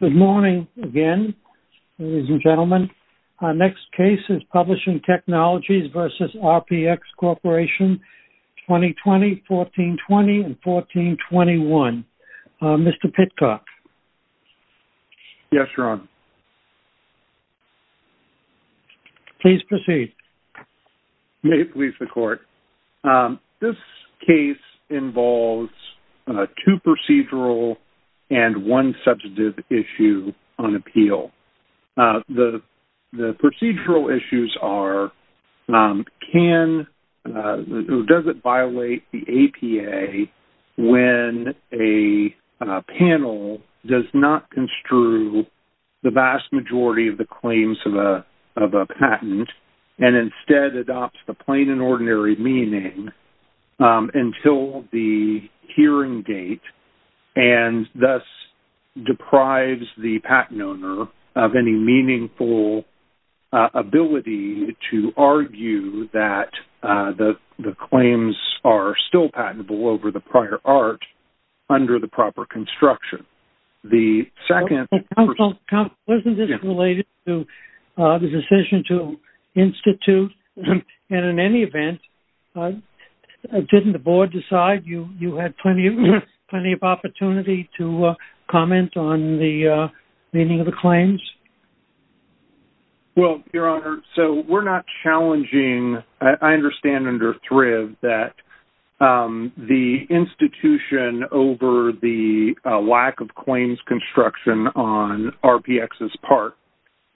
Good morning again, ladies and gentlemen. Our next case is Publishing Technologies v. RPX Corporation, 2020-14-20 and 14-21. Mr. Pitcock. Yes, Ron. Please proceed. May it please the Court. This case involves two procedural and one substantive issue on appeal. The procedural issues are, does it violate the APA when a panel does not construe the vast majority of the claims of a patent and instead adopts the thus deprives the patent owner of any meaningful ability to argue that the claims are still patentable over the prior art under the proper construction. The second... Wasn't this related to the decision to institute? And in any event, didn't the Board decide you had plenty of opportunity to comment on the meaning of the claims? Well, Your Honor, so we're not challenging. I understand under Thrive that the institution over the lack of claims construction on RPX's part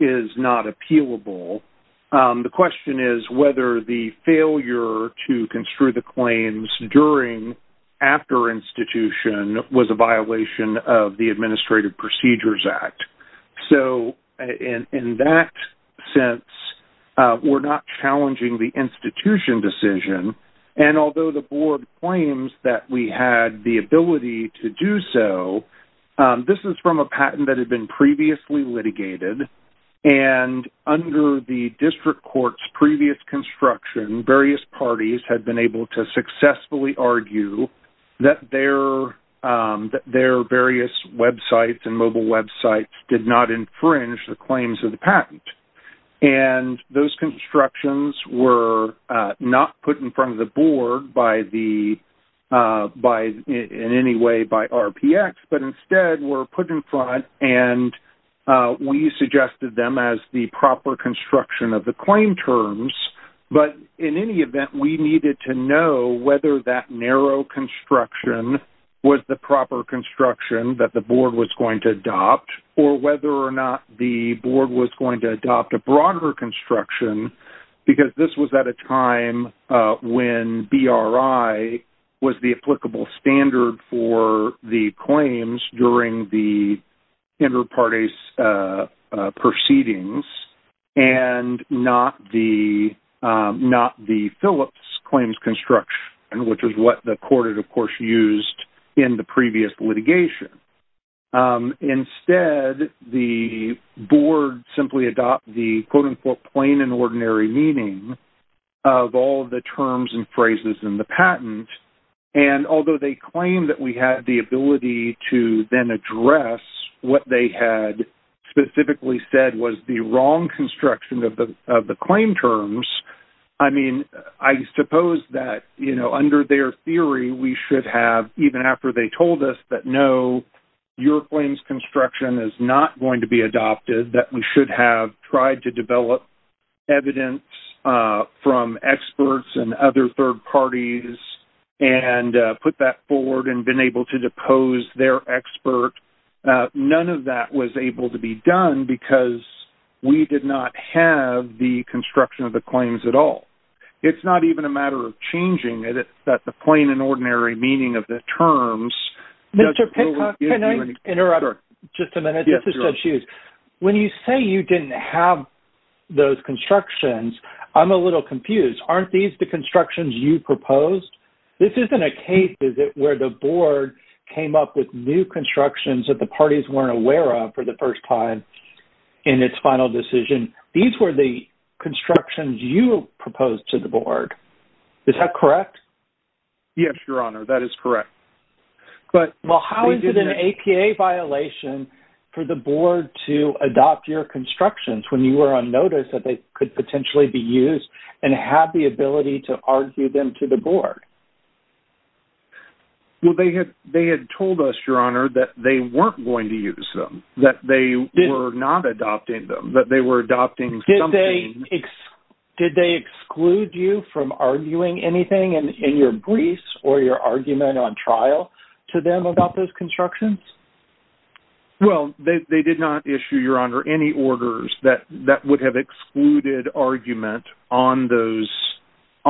is not appealable. The question is whether the failure to construe the claims during after institution was a violation of the Administrative Procedures Act. So in that sense, we're not challenging the institution decision. And although the Board claims that we had the ability to do so, this is from a patent that had been previously litigated. And under the district court's previous construction, various parties had been able to successfully argue that their various websites and mobile websites did not infringe the claims of the patent. And those constructions were not put in front of the Board in any way by RPX, but instead were put in front and we suggested them as the proper construction of the claim terms. But in any event, we needed to know whether that narrow construction was the proper construction that the Board was going to adopt or whether or not the Board was going to adopt a broader construction because this was at a time when BRI was the applicable standard for the claims during the inter-parties proceedings and not the Phillips claims construction, which is what the court, of course, used in the previous litigation. Instead, the Board simply adopted the, quote-unquote, plain and ordinary meaning of all the terms and phrases in the patent. And although they claimed that we had the ability to then address what they had specifically said was the wrong construction of the claim terms, I mean, I suppose that, you know, under their theory, we should have, even after they told us that, no, your claims construction is not going to be adopted, that we should have tried to develop evidence from experts and other third parties and put that forward and been able to depose their expert. None of that was able to be done because we did not have the construction of the claims at all. It's not even a matter of changing it, that the plain and ordinary meaning of the terms... Mr. Pincock, can I interrupt just a minute? This is Ted Hughes. When you say you didn't have those constructions, I'm a little confused. Aren't these the constructions you proposed? This isn't a case, is it, where the Board came up with new constructions that the parties weren't aware of for the first time in its final decision. These were the constructions you proposed to the Board. Yes, Your Honor, that is correct. Well, how is it an APA violation for the Board to adopt your constructions when you were on notice that they could potentially be used and have the ability to argue them to the Board? Well, they had told us, Your Honor, that they weren't going to use them, that they were not adopting them, that they were adopting something... Did they exclude you from arguing anything in your briefs or your argument on trial to them about those constructions? Well, they did not issue, Your Honor, any orders that would have excluded argument on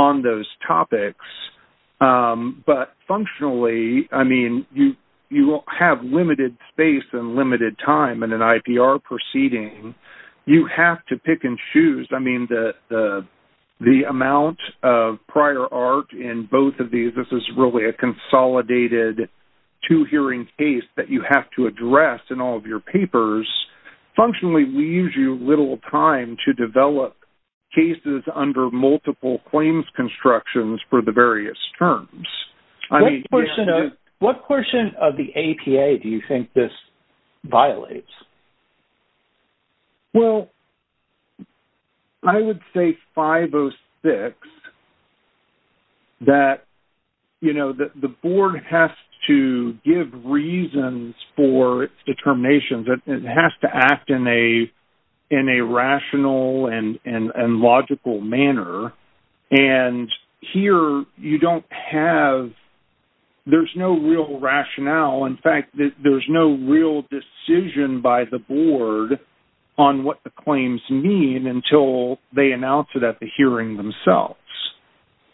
those topics. But functionally, I mean, you have limited space and limited time in an IPR proceeding. You have to pick and choose. I mean, the amount of prior art in both of these, this is really a consolidated two-hearing case that you have to address in all of your papers, functionally leaves you little time to develop cases under multiple claims constructions for the various terms. What portion of the APA do you think this violates? Well, I would say 506, that, you know, the Board has to give reasons for its determinations. It has to act in a rational and logical manner. And here you don't have... There's no real rationale. In fact, there's no real decision by the Board on what the claims mean until they announce it at the hearing themselves.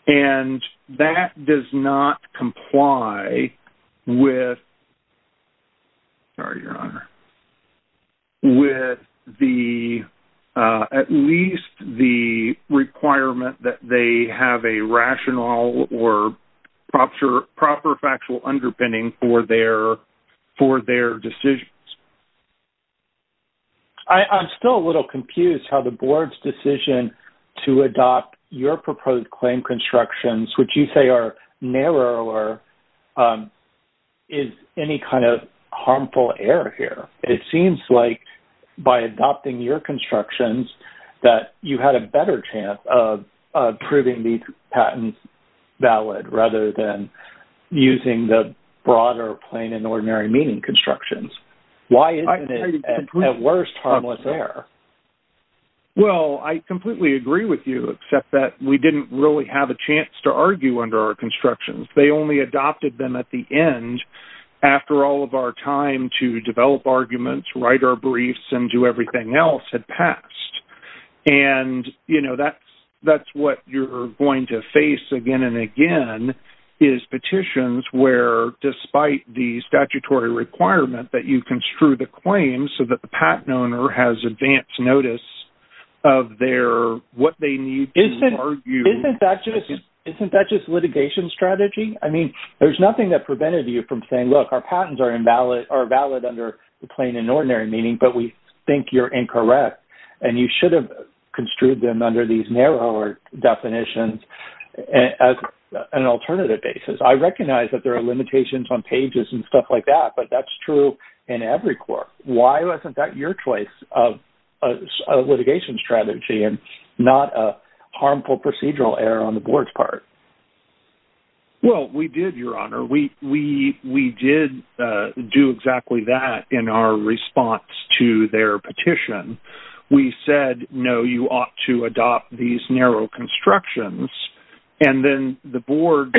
And that does not comply with... Sorry, Your Honor. With the... At least the requirement that they have a rational or proper factual underpinning for their decisions. I'm still a little confused how the Board's decision to adopt your proposed claim constructions, which you say are narrower, is any kind of harmful error here. It seems like by adopting your constructions that you had a better chance of proving these plain and ordinary meaning constructions. Why isn't it at worst harmless there? Well, I completely agree with you, except that we didn't really have a chance to argue under our constructions. They only adopted them at the end after all of our time to develop arguments, write our briefs, and do everything else had passed. And, you know, that's what you're going to face again and again is petitions where despite the statutory requirement that you construe the claims so that the patent owner has advanced notice of their... What they need to argue... Isn't that just litigation strategy? I mean, there's nothing that prevented you from saying, look, our patents are invalid or valid under the plain and ordinary meaning, but we are incorrect, and you should have construed them under these narrower definitions as an alternative basis. I recognize that there are limitations on pages and stuff like that, but that's true in every court. Why wasn't that your choice of litigation strategy and not a harmful procedural error on the Board's part? Well, we did, Your Honor. We did do exactly that in our response to their petition. We said, no, you ought to adopt these narrow constructions. And then the Board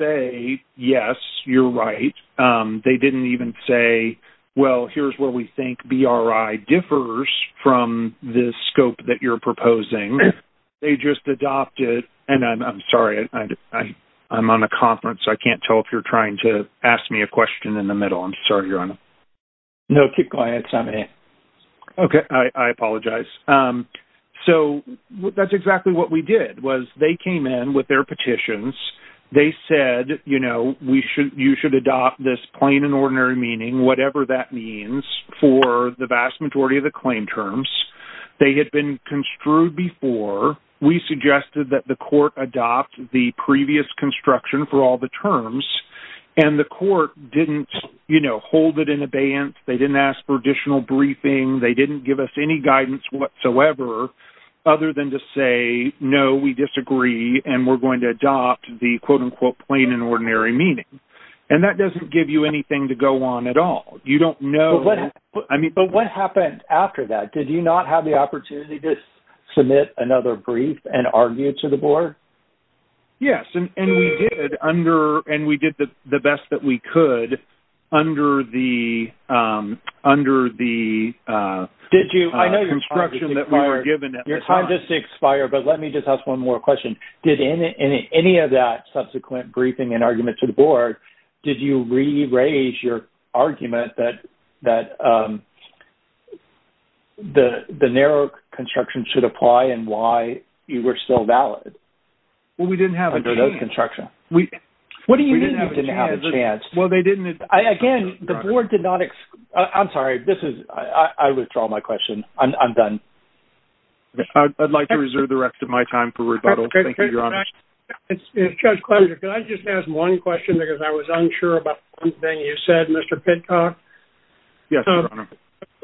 say, yes, you're right. They didn't even say, well, here's where we think BRI differs from this scope that you're on. I'm on a conference. I can't tell if you're trying to ask me a question in the middle. I'm sorry, Your Honor. No, keep going. It's on me. Okay. I apologize. So that's exactly what we did was they came in with their petitions. They said, you should adopt this plain and ordinary meaning, whatever that means for the vast majority of the claim terms. They had been construed before. We suggested that the court adopt the previous construction for all the terms, and the court didn't hold it in abeyance. They didn't ask for additional briefing. They didn't give us any guidance whatsoever other than to say, no, we disagree, and we're going to adopt the, quote, unquote, plain and ordinary meaning. And that doesn't give you anything to go on at all. You don't know. But what happened after that? Did you not have the opportunity to submit another brief and argue to the board? Yes, and we did under, and we did the best that we could under the construction that we were given at the time. Your time just expired, but let me just ask one more question. Did any of that subsequent briefing and argument to the board, did you re-raise your argument that the narrow construction should apply and why you were still valid? Well, we didn't have a chance. What do you mean you didn't have a chance? Again, the board did not, I'm sorry. I withdraw my question. I'm done. I'd like to reserve the rest of my time for rebuttal. Thank you, Mr. Pittcock.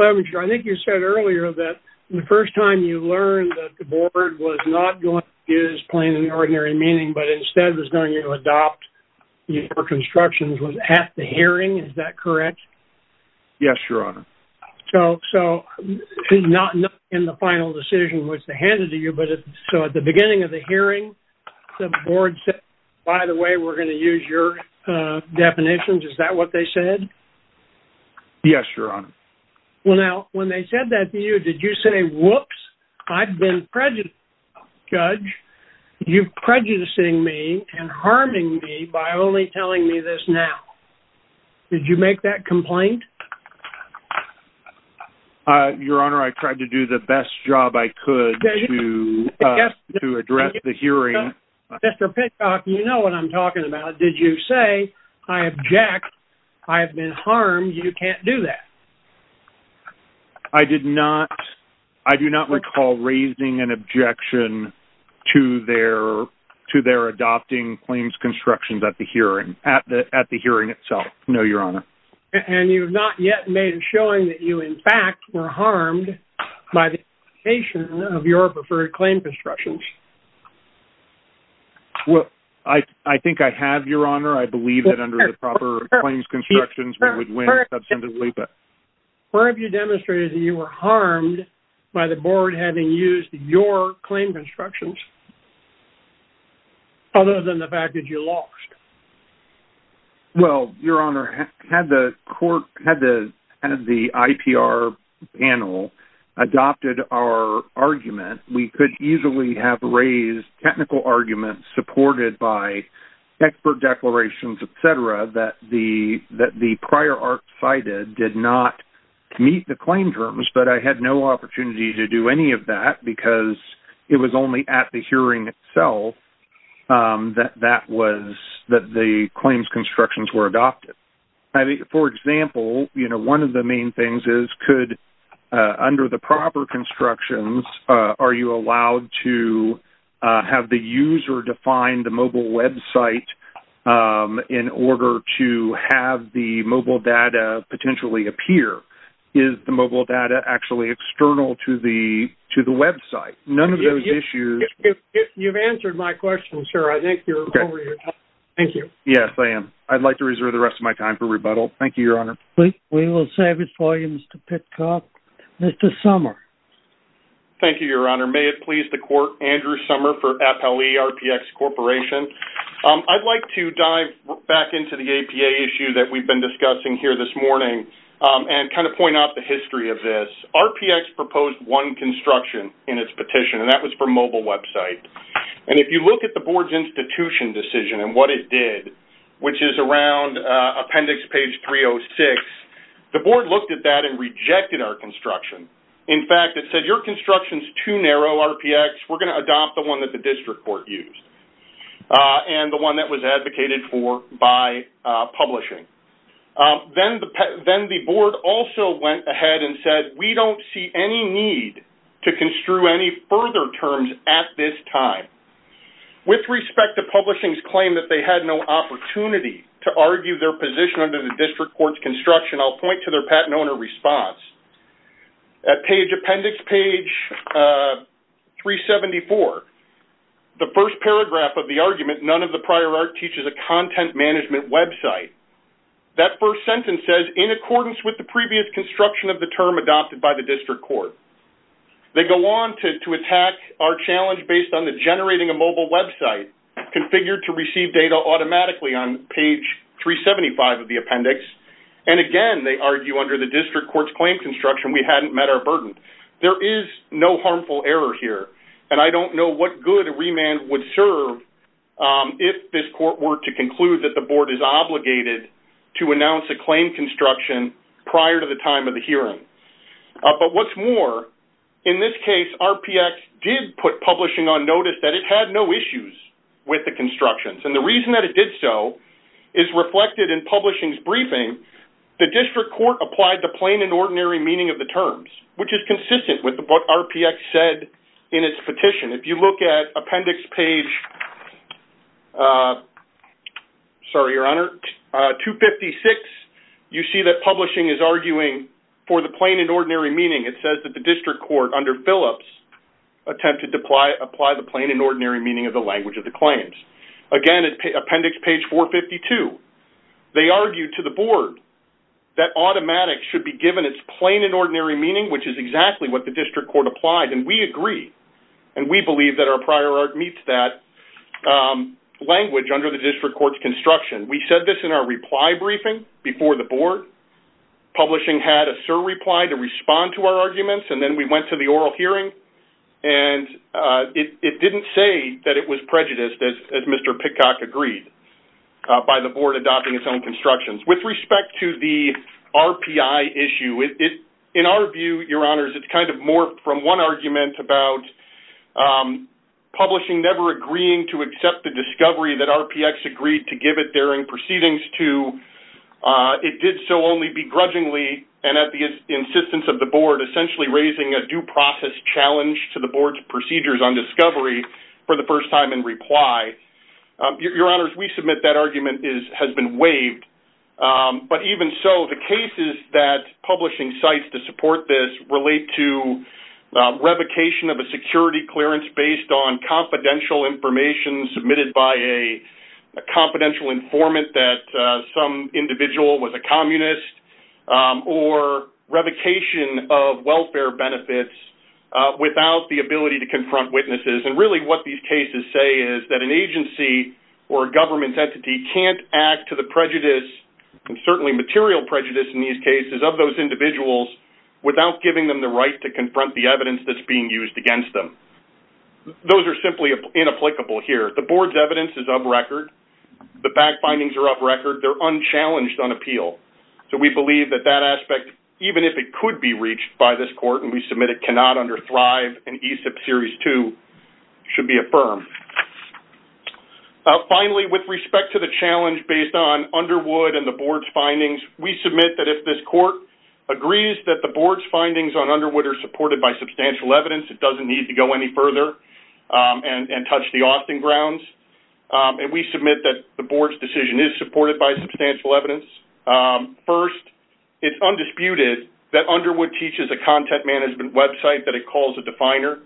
I think you said earlier that the first time you learned that the board was not going to use plain and ordinary meaning, but instead was going to adopt your constructions was at the hearing. Is that correct? Yes, your honor. So not in the final decision, which they handed to you, but so at the beginning of the hearing, the board said, by the way, we're going to use your definitions. Is that what they said? Yes, your honor. Well, now when they said that to you, did you say, whoops, I've been prejudiced, judge. You prejudicing me and harming me by only telling me this now. Did you make that complaint? Your honor, I tried to do the best job I could to address the hearing. Mr. Pittcock, you know what I'm talking about. Did you say I object? I have been harmed. You can't do that. I did not. I do not recall raising an objection to their, to their adopting claims constructions at the hearing at the, at the hearing itself. No, your honor. And you have not yet made a showing that you in fact were harmed by the patient of your preferred claim constructions. Well, I, I think I have your honor. I believe that under the proper claims constructions, we would win. Where have you demonstrated that you were harmed by the board having used your claim constructions other than the fact that you lost? Well, your honor had the court had the, had the IPR panel adopted our argument, we could easily have raised technical arguments supported by expert declarations, et cetera, that the, that the prior art cited did not meet the claim terms, but I had no opportunity to do any of that because it was only at the one of the main things is could under the proper constructions are you allowed to have the user define the mobile website in order to have the mobile data potentially appear? Is the mobile data actually external to the, to the website? None of those issues. You've answered my question, sir. I think you're okay. Thank you. Yes, I am. I'd like to reserve the rest of my time for we will service volumes to pick up Mr. Summer. Thank you, your honor. May it please the court, Andrew Summer for FLE RPX corporation. I'd like to dive back into the APA issue that we've been discussing here this morning and kind of point out the history of this RPX proposed one construction in its petition, and that was for mobile website. And if you look at the board's institution decision and what it did, which is around appendix page 306, the board looked at that and rejected our construction. In fact, it said your construction's too narrow RPX. We're going to adopt the one that the district court used and the one that was advocated for by publishing. Then the, then the board also went ahead and said, we don't see any need to construe any further terms at this time. With respect to publishing's claim that they had no opportunity to argue their position under the district court's construction, I'll point to their patent owner response. At page appendix page 374, the first paragraph of the argument, none of the prior art teaches a content management website. That first sentence says in accordance with the previous construction of the term adopted by the district court. They go on to attack our challenge based on the generating a mobile website configured to receive data automatically on page 375 of the appendix. And again, they argue under the district court's claim construction, we hadn't met our burden. There is no harmful error here. And I don't know what good a remand would serve if this court were to conclude that the board is obligated to announce a claim construction prior to the time of the hearing. But what's more, in this case, RPX did put publishing on notice that it had no issues with the constructions. And the reason that it did so is reflected in publishing's briefing, the district court applied the plain and ordinary meaning of the terms, which is consistent with what RPX said in its petition. If you look at appendix page, sorry, your honor, 256, you see that publishing is arguing for the plain and ordinary meaning. It says that the district court under Phillips attempted to apply the plain and ordinary meaning of the language of the claims. Again, appendix page 452, they argued to the board that automatic should be given its plain and ordinary meaning, which is exactly what the district court applied. And we agree. And we believe that our prior art meets that language under the district court's construction. We said this in our reply briefing before the board. Publishing had a sir reply to respond to our arguments. And then we went to the oral hearing. And it didn't say that it was prejudiced, as Mr. Pitcock agreed, by the board adopting its own constructions. With respect to the RPI issue, in our view, your honors, it's kind of more from one argument about publishing never agreeing to accept the discovery that RPX agreed to give it during proceedings to. It did so only begrudgingly and at the insistence of the board, essentially raising a due process challenge to the board's procedures on discovery for the first time in reply. Your honors, we submit that argument has been waived. But even so, the cases that publishing cites to support this relate to revocation of a security clearance based on confidential information submitted by a confidential informant that some individual was a communist, or revocation of welfare benefits without the ability to confront witnesses. And really what these cases say is that an agency or government entity can't act to the prejudice and certainly material prejudice in these cases of those individuals without giving them the right to confront the evidence that's being used against them. Those are simply inapplicable here. The board's evidence is up record. The fact findings are up record. They're unchallenged on appeal. So we believe that that aspect, even if it could be reached by this court, and we submit it cannot under Thrive and ESIP Series 2, should be affirmed. Finally, with respect to the challenge based on Underwood and the board's findings, we submit that if this court agrees that the board's findings on Underwood are supported by substantial evidence, it doesn't need to go any further and touch the Austin grounds. And we submit that the board's decision is supported by substantial evidence. First, it's undisputed that Underwood teaches a content management website that it calls a definer.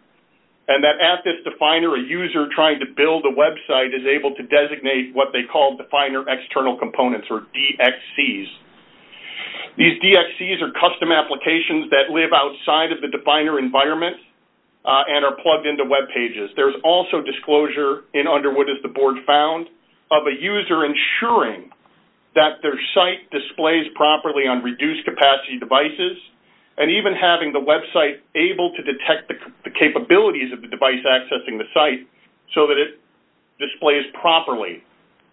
And that at this definer, a user trying to build a website is able to designate what they call definer external components or DXCs. These DXCs are custom applications that live outside of the definer environment and are plugged into webpages. There's also disclosure in Underwood, as the board found, of a user ensuring that their site displays properly on reduced capacity devices and even having the website able to detect the capabilities of the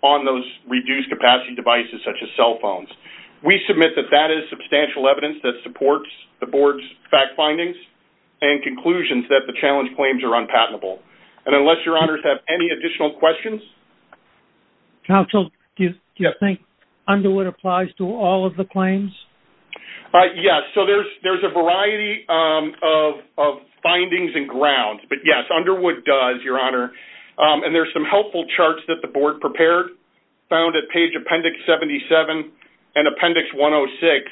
on those reduced capacity devices, such as cell phones. We submit that that is substantial evidence that supports the board's fact findings and conclusions that the challenge claims are unpatentable. And unless your honors have any additional questions. Counsel, do you think Underwood applies to all of the claims? Yes. So there's a variety of findings and grounds, but yes, Underwood does, your honor. And there's some helpful charts that the board prepared, found at page Appendix 77 and Appendix 106.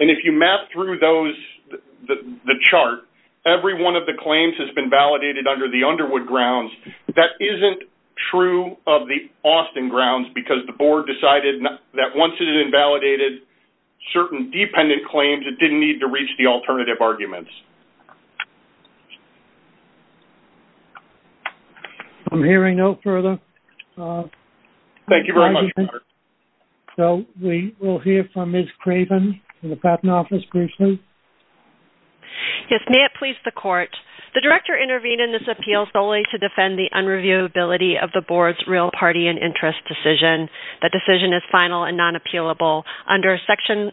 And if you map through those, the chart, every one of the claims has been validated under the Underwood grounds. That isn't true of the Austin grounds because the board decided that once it had invalidated certain dependent claims, it didn't need to reach the alternative arguments. I'm hearing no further. Thank you very much, your honor. So we will hear from Ms. Craven from the Patent Office briefly. Yes. May it please the court, the director intervened in this appeal solely to defend the unreviewability of the board's real party and interest decision. That decision is final and non-appealable under Section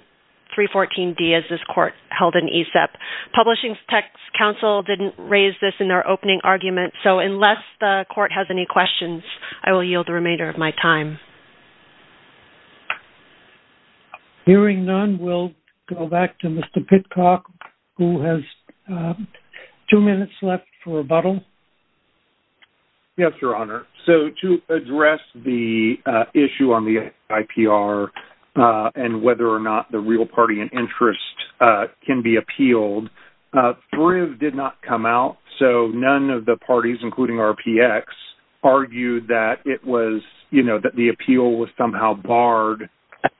314D, as this court held in ASEP. Publishing Tech's counsel didn't raise this in their opening argument. So unless the court has any questions, I will yield the remainder of my time. Hearing none, we'll go back to Mr. Pitcock, who has two minutes left for rebuttal. Yes, your honor. So to address the issue on the IPR and whether or not the real party and interest can be appealed, Thrive did not come out. So none of the parties, including RPX, argued that the appeal was somehow barred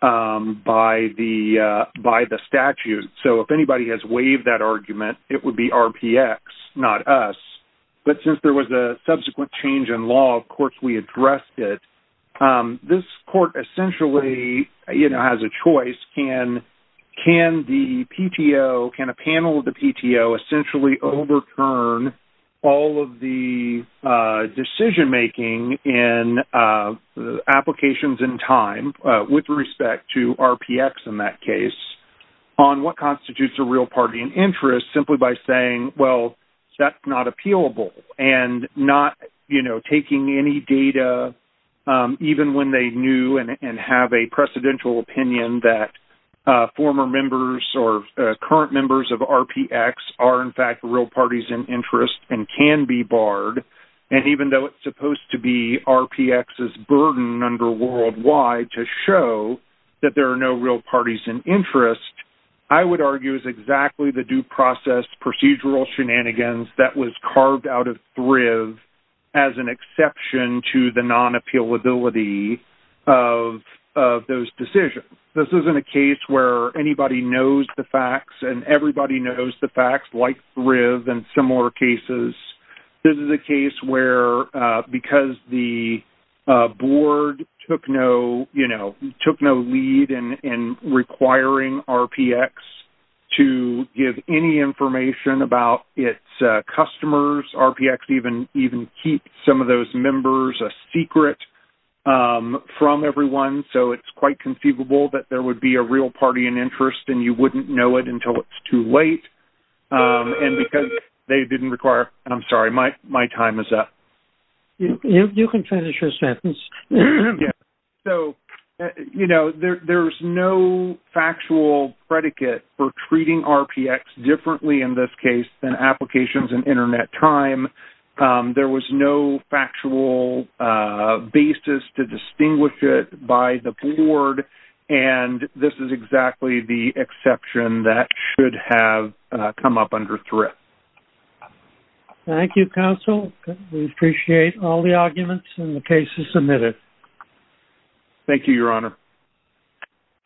by the statute. So if anybody has waived that argument, it would be RPX, not us. But since there was a subsequent change in law, of course, we addressed it. This court essentially, you know, has a choice. Can the PTO, can a panel of the PTO essentially overturn all of the decision making in applications in time with respect to RPX in that case on what constitutes a real party and interest simply by saying, well, that's not data, even when they knew and have a precedential opinion that former members or current members of RPX are in fact real parties and interest and can be barred. And even though it's supposed to be RPX's burden under worldwide to show that there are no real parties and interest, I would argue exactly the due process procedural shenanigans that was carved out of Thrive as an exception to the non-appealability of those decisions. This isn't a case where anybody knows the facts and everybody knows the facts like Thrive and similar cases. This is a case where because the to give any information about its customers, RPX even keep some of those members a secret from everyone. So it's quite conceivable that there would be a real party and interest and you wouldn't know it until it's too late. And because they didn't require, I'm sorry, my time is up. You can finish your sentence. So, you know, there's no factual predicate for treating RPX differently in this case than applications and internet time. There was no factual basis to distinguish it by the board. And this is exactly the exception that should have come up under Thrive. Thank you, counsel. We appreciate all the arguments and the cases submitted. Thank you, your honor.